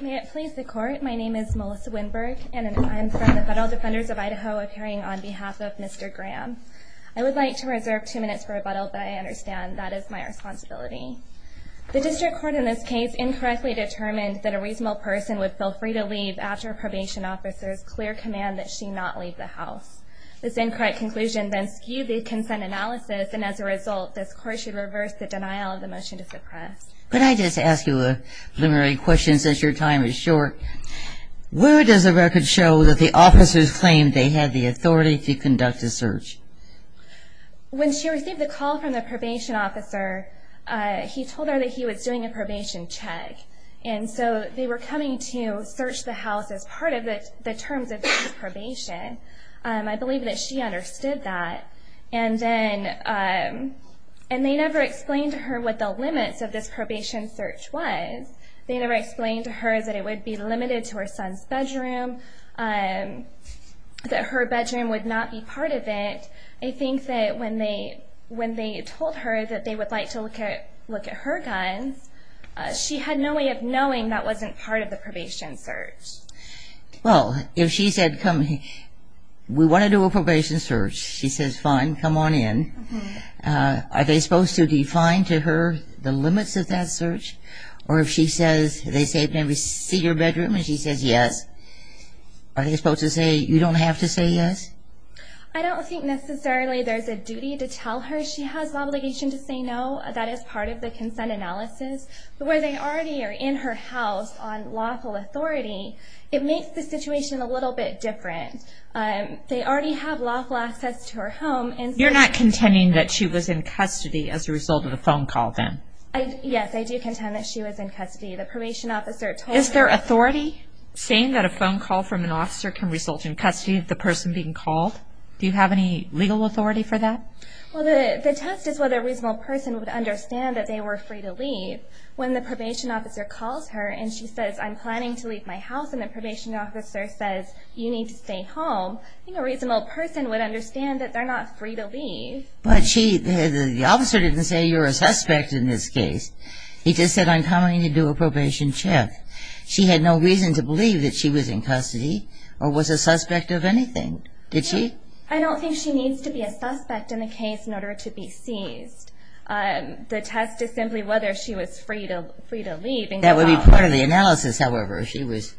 May it please the court, my name is Melissa Winberg and I am from the Buttle Defenders of Idaho appearing on behalf of Mr. Graham. I would like to reserve two minutes for rebuttal but I understand that is my responsibility. The district court in this case incorrectly determined that a reasonable person would feel free to leave after a probation officer's clear command that she not leave the house. This incorrect conclusion then skewed the consent analysis and as a result this court should reverse the denial of the motion to suppress. Could I just ask you a literary question since your time is short? Where does the record show that the officers claimed they had the authority to conduct a search? When she received the call from the probation officer he told her that he was doing a probation check and so they were coming to search the house as part of the terms of this probation. I believe that she understood that and then they never explained to her what the limits of this probation search was. They never explained to her that it would be limited to her son's bedroom that her bedroom would not be part of it. I think that when they told her that they would like to look at her guns she had no way of knowing that wasn't part of the probation search. Well if she said we want to do a probation search she says fine come on in. Are they supposed to define to her the limits of that search or if she says they say can we see your bedroom and she says yes are they supposed to say you don't have to say yes? I don't think necessarily there's a duty to tell her she has obligation to say no that is part of the consent analysis. Where they already are in her house on lawful authority it makes the situation a little bit different. They already have lawful access to her home. You're not contending that she was in custody as a result of a phone call then? Yes I do contend that she was in custody. The probation officer told her. Is there authority saying that a phone call from an officer can result in custody of the person being called? Do you have any legal authority for that? Well the test is whether a reasonable person would understand that they were free to leave. When the probation officer calls her and she says I'm planning to leave my house and the probation officer says you need to stay home I think a reasonable person would understand that they're not free to leave. But the officer didn't say you're a suspect in this case he just said I'm coming to do a probation check. She had no reason to believe that she was in custody or was a suspect of anything. Did she? I don't think she needs to be a suspect in the case in order to be seized. The test is simply whether she was free to leave. That would be part of the analysis however if she was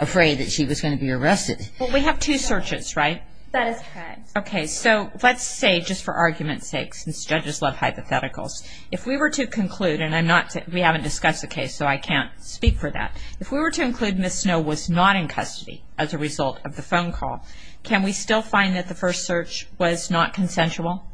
afraid that she was going to be arrested. We have two searches right? That is correct. Let's say just for argument's sake since judges love hypotheticals if we were to conclude and we haven't discussed the case so I can't speak for that. If we were to conclude Ms. Snow was not in custody as a result of the phone call can we still find that the first search was not consensual?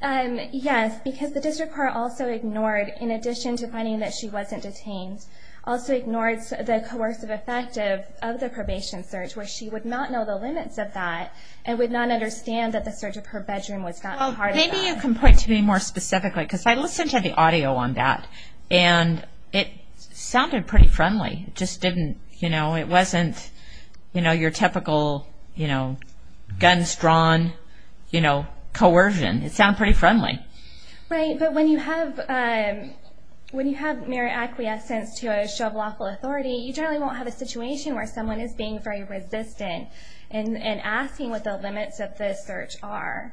Yes because the district court also ignored in addition to finding that she wasn't detained also ignored the coercive effect of the probation search where she would not know the limits of that and would not understand that the search of her bedroom was not part of that. Maybe you can point to me more specifically because I listened to the audio on that and it sounded pretty friendly. It just didn't you know it wasn't your typical guns drawn coercion. It sounded pretty friendly. Right but when you have mere acquiescence to a show of lawful authority you generally won't have a situation where someone is being very resistant and asking what the limits of the search are.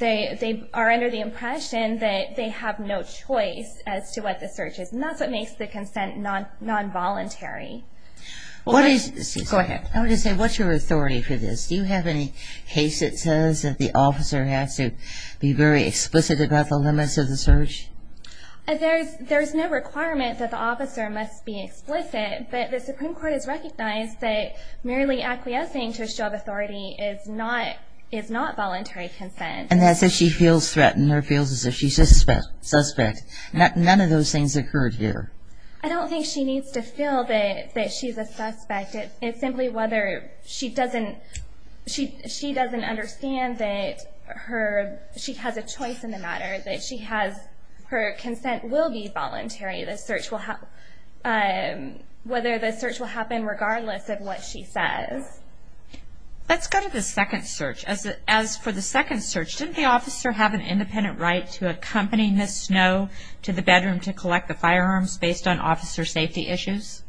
They are under the impression that they have no choice as to what the search is and that's what makes the consent non-voluntary. Go ahead. I want to say what's your authority for this? Do you have any case that says that the officer has to be very explicit about the limits of the search? There's no requirement that the officer must be explicit but the Supreme Court has recognized that merely acquiescing to a show of authority is not voluntary consent. And that's if she feels threatened or feels as if she's a suspect. None of those things occurred here. I don't think she needs to feel that she's a suspect. It's simply whether she doesn't understand that she has a choice in the matter. Her consent will be voluntary. The search will happen regardless of what she says. Let's go to the second search. As for the second search, didn't the officer have an independent right to accompany Ms. Snow to the bedroom to collect the firearms based on officer safety issues?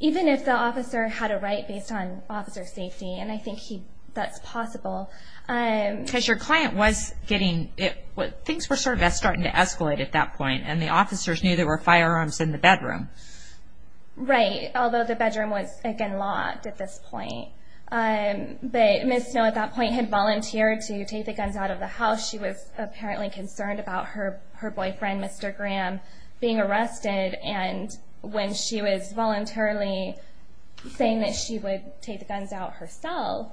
Even if the officer had a right based on officer safety and I think that's possible. Because your client was getting, things were sort of starting to escalate at that point and the officers knew there were firearms in the bedroom. Right, although the bedroom was again locked at this point. But Ms. Snow at that point had volunteered to take the guns out of the house. She was apparently concerned about her boyfriend Mr. Graham being arrested and when she was voluntarily saying that she would take the guns out herself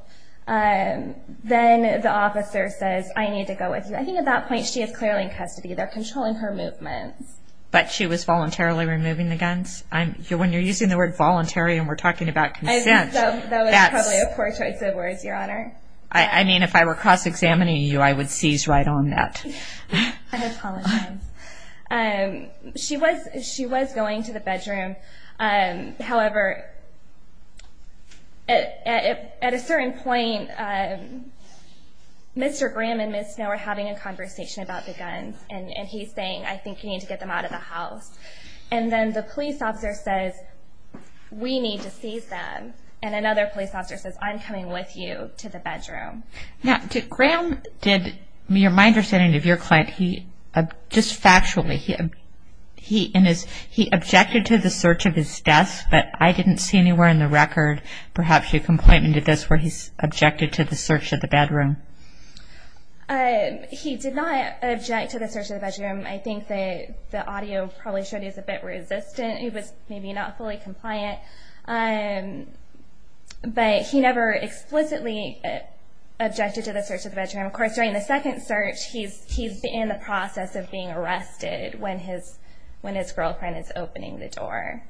then the officer says I need to go with you. I think at that point she is clearly in custody. They're controlling her movements. But she was voluntarily removing the guns? When you're using the word voluntary and we're talking about consent. I think that was probably a poor choice of words, Your Honor. I mean if I were cross-examining you I would seize right on that. I apologize. She was going to the bedroom. However at a certain point Mr. Graham and Ms. Snow were having a conversation about the guns and he's saying I think you need to get them out of the house. And then the police officer says we need to seize them. And another police officer says I'm coming with you to the bedroom. Now did Graham, my understanding of your client, just factually, he objected to the search of his desk? But I didn't see anywhere in the record perhaps a complaint where he objected to the search of the bedroom. He did not object to the search of the bedroom. I think that the audio probably showed he was a bit resistant. He was maybe not fully compliant. But he never explicitly objected to the search of the bedroom. Of course during the second search he's in the process of being arrested when his parents were.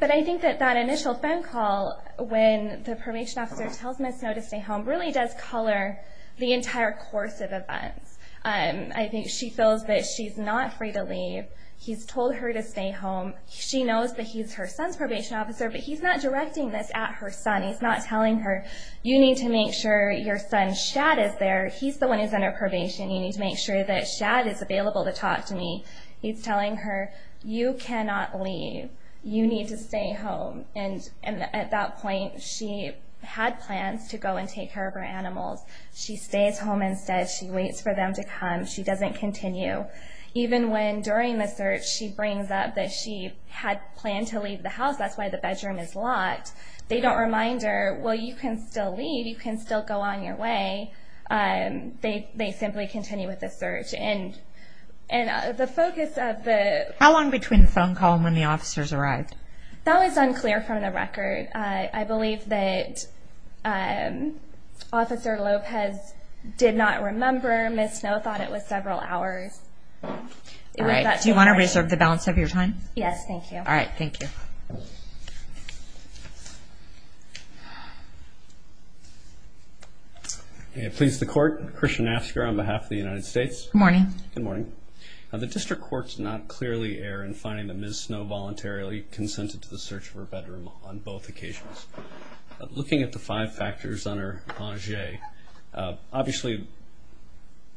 But I think that that initial phone call when the probation officer tells Ms. Snow to stay home really does color the entire course of events. I think she feels that she's not free to leave. He's told her to stay home. She knows that he's her son's probation officer but he's not directing this at her son. He's not telling her you need to make sure your son Shad is there. He's the one who's under probation. You need to make sure that Shad is available to talk to me. He's telling her you cannot leave. You need to stay home. And at that point she had plans to go and take care of her animals. She stays home instead. She waits for them to come. She doesn't continue. Even when during the search she brings up that she had planned to leave the house. That's why the bedroom is locked. They don't remind her well you can still leave. You can still go on your way. They simply continue with the search. How long between the phone call and when the officers arrived? That was unclear from the record. I believe that Officer Lopez did not remember. Ms. Snow thought it was several hours. Do you want to reserve the balance of your time? Yes, thank you. Please the Court. Christian Asker on behalf of the United States. Good morning. The District Courts not clearly err in finding that Ms. Snow voluntarily consented to the search of her bedroom on both occasions. Looking at the five factors on her pension, obviously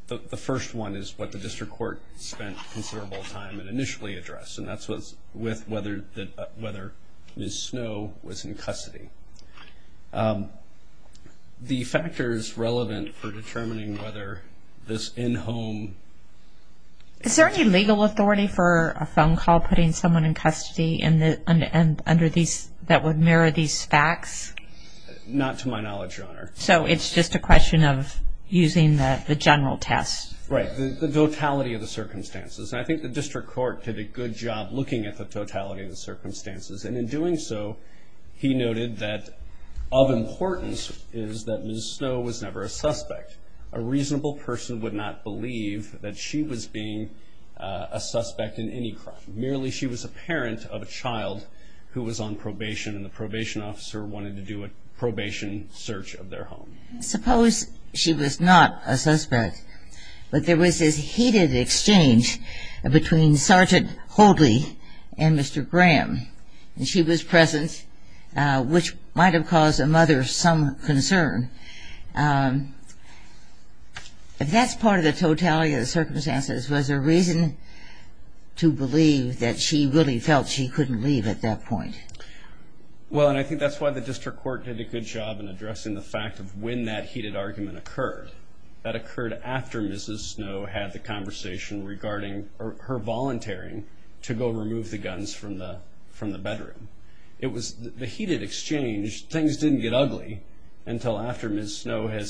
the first one is what the District Court spent considerable time and initially addressed. And that's with whether Ms. Snow was in custody. The factors relevant for determining whether this in-home... Is there any legal authority for a phone call putting someone in custody that would mirror these facts? Not to my knowledge, Your Honor. So it's just a question of using the general test. Right. The totality of the circumstances. I think the District Court did a good job looking at the totality of the circumstances. And in doing so, he noted that of importance is that Ms. Snow was never a suspect. A reasonable person would not believe that she was being a suspect in any crime. Merely she was a parent of a child who was on probation and the probation officer wanted to do a probation search of their home. Suppose she was not a suspect, but there was this heated exchange between Sergeant Holdley and Mr. Graham. And she was present, which might have caused a mother some concern. If that's part of the totality of the circumstances, was there reason to believe that she really felt she couldn't leave at that point? Well, and I think that's why the District Court did a good job in addressing the fact of when that heated argument occurred. That occurred after Ms. Snow had the conversation regarding her volunteering to go remove the guns from the bedroom. It was the heated exchange. Things didn't get ugly until after Ms. Snow had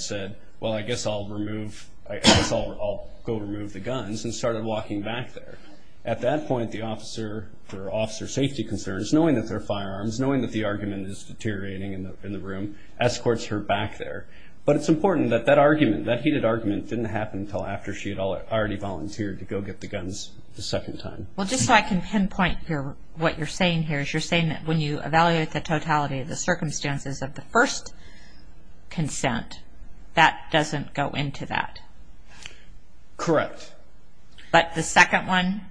said, well, I guess I'll remove the guns and started walking back there. At that point, the officer, for officer safety concerns, knowing that there are firearms, knowing that the argument is deteriorating in the room, escorts her back there. But it's important that that heated argument didn't happen until after she had already volunteered to go get the guns a second time. Well, just so I can pinpoint what you're saying here, is you're saying that when you evaluate the totality of the circumstances of the first consent, that doesn't go into that? Correct. But the second one?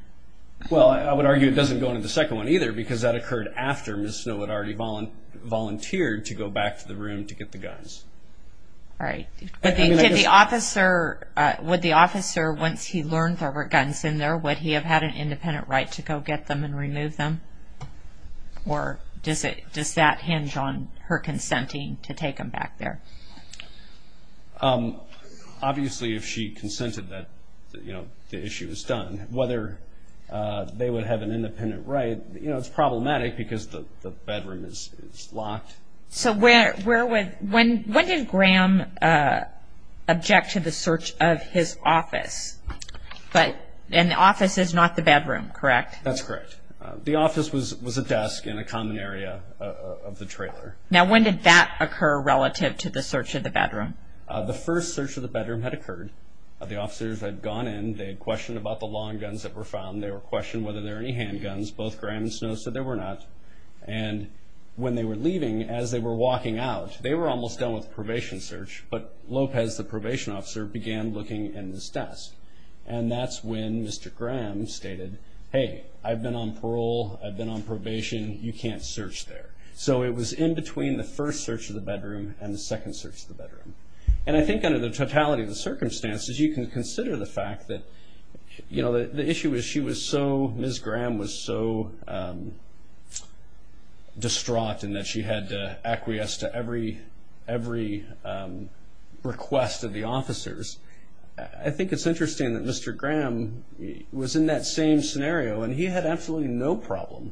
Well, I would argue it doesn't go into the second one either, because that occurred after Ms. Snow had already volunteered to go back to the room to get the guns. All right. Would the officer, once he learned there were guns in there, would he have had an independent right to go get them and remove them? Or does that hinge on her consenting to take them back there? Obviously, if she consented, the issue is done. Whether they would have an independent right, it's problematic, because the bedroom is locked. So, when did Graham object to the search of his office? And the office is not the bedroom, correct? That's correct. The office was a desk in a common area of the trailer. Now, when did that occur relative to the search of the bedroom? The first search of the bedroom had occurred. The officers had gone in. They had questioned about the long guns that were found. They had questioned whether there were any handguns. Both Graham and Snow said there were not. And when they were leaving, as they were walking out, they were almost done with the probation search, but Lopez, the probation officer, began looking in this desk. And that's when Mr. Graham stated, hey, I've been on parole. I've been on probation. You can't search there. So it was in between the first search of the bedroom and the second search of the bedroom. And I think under the totality of the circumstances, you can consider the fact that the issue is she was so, Ms. Graham was so distraught in that she had to acquiesce to every request of the officers. I think it's interesting that Mr. Graham was in that same scenario, and he had absolutely no problem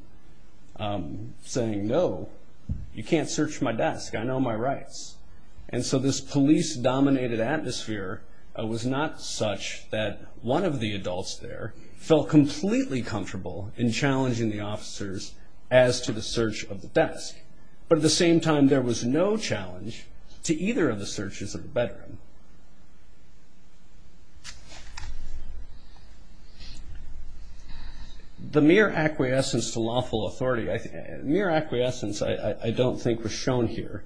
saying, no, you can't search my desk. I know my rights. And so this police-dominated atmosphere was not such that one of the adults there felt completely comfortable in challenging the officers as to the search of the desk. But at the same time, there was no challenge to either of the searches of the bedroom. The mere acquiescence to lawful authority, mere acquiescence I don't think was shown here.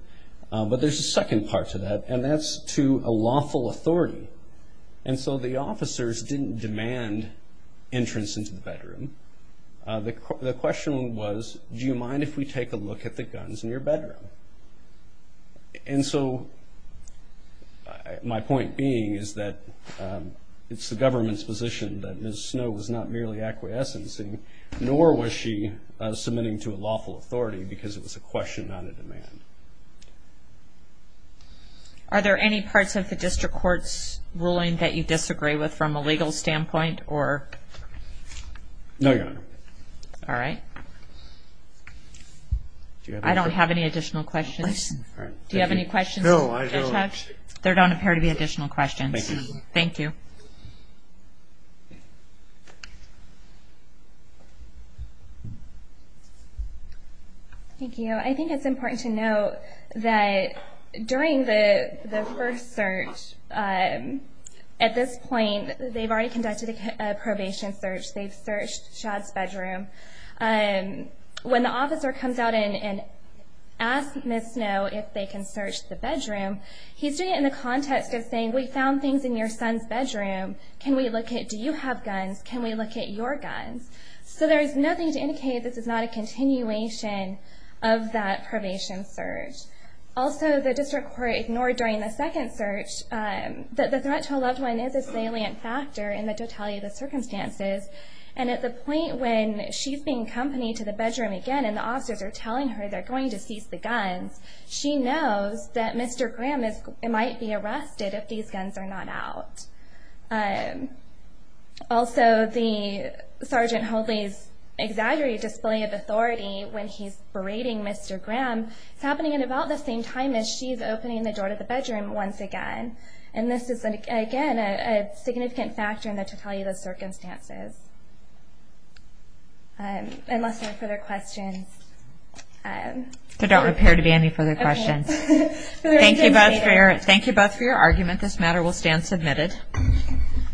But there's a second part to that, and that's to a lawful authority. And so the officers didn't demand entrance into the bedroom. The question was, do you mind if we take a look at the guns in your bedroom? And so my point being is that it's the government's position that Ms. Snow was not merely acquiescing, nor was she submitting to a lawful authority, because it was a question, not a demand. Are there any parts of the district court's opinion that you disagree with from a legal standpoint? No, Your Honor. I don't have any additional questions. There don't appear to be additional questions. Thank you. Thank you. I think it's important to note that during the first search at this point, they've already conducted a probation search. They've searched Chad's bedroom. When the officer comes out and asks Ms. Snow if they can search the bedroom, he's doing it in the context of saying, we found things in your son's bedroom. Can we look at, do you have guns? Can we look at your guns? So there's nothing to indicate this is not a continuation of that So the district court ignored during the second search that the threat to a loved one is a salient factor in the totality of the circumstances. And at the point when she's being accompanied to the bedroom again and the officers are telling her they're going to cease the guns, she knows that Mr. Graham might be arrested if these guns are not out. Also, the Sergeant Holdley's exaggerated display of authority when he's berating Mr. Graham is happening at about the same time as she's opening the door to the bedroom once again. And this is, again, a significant factor in the totality of the circumstances. Unless there are further questions. There don't appear to be any further questions. Thank you both for your argument. This matter will stand submitted.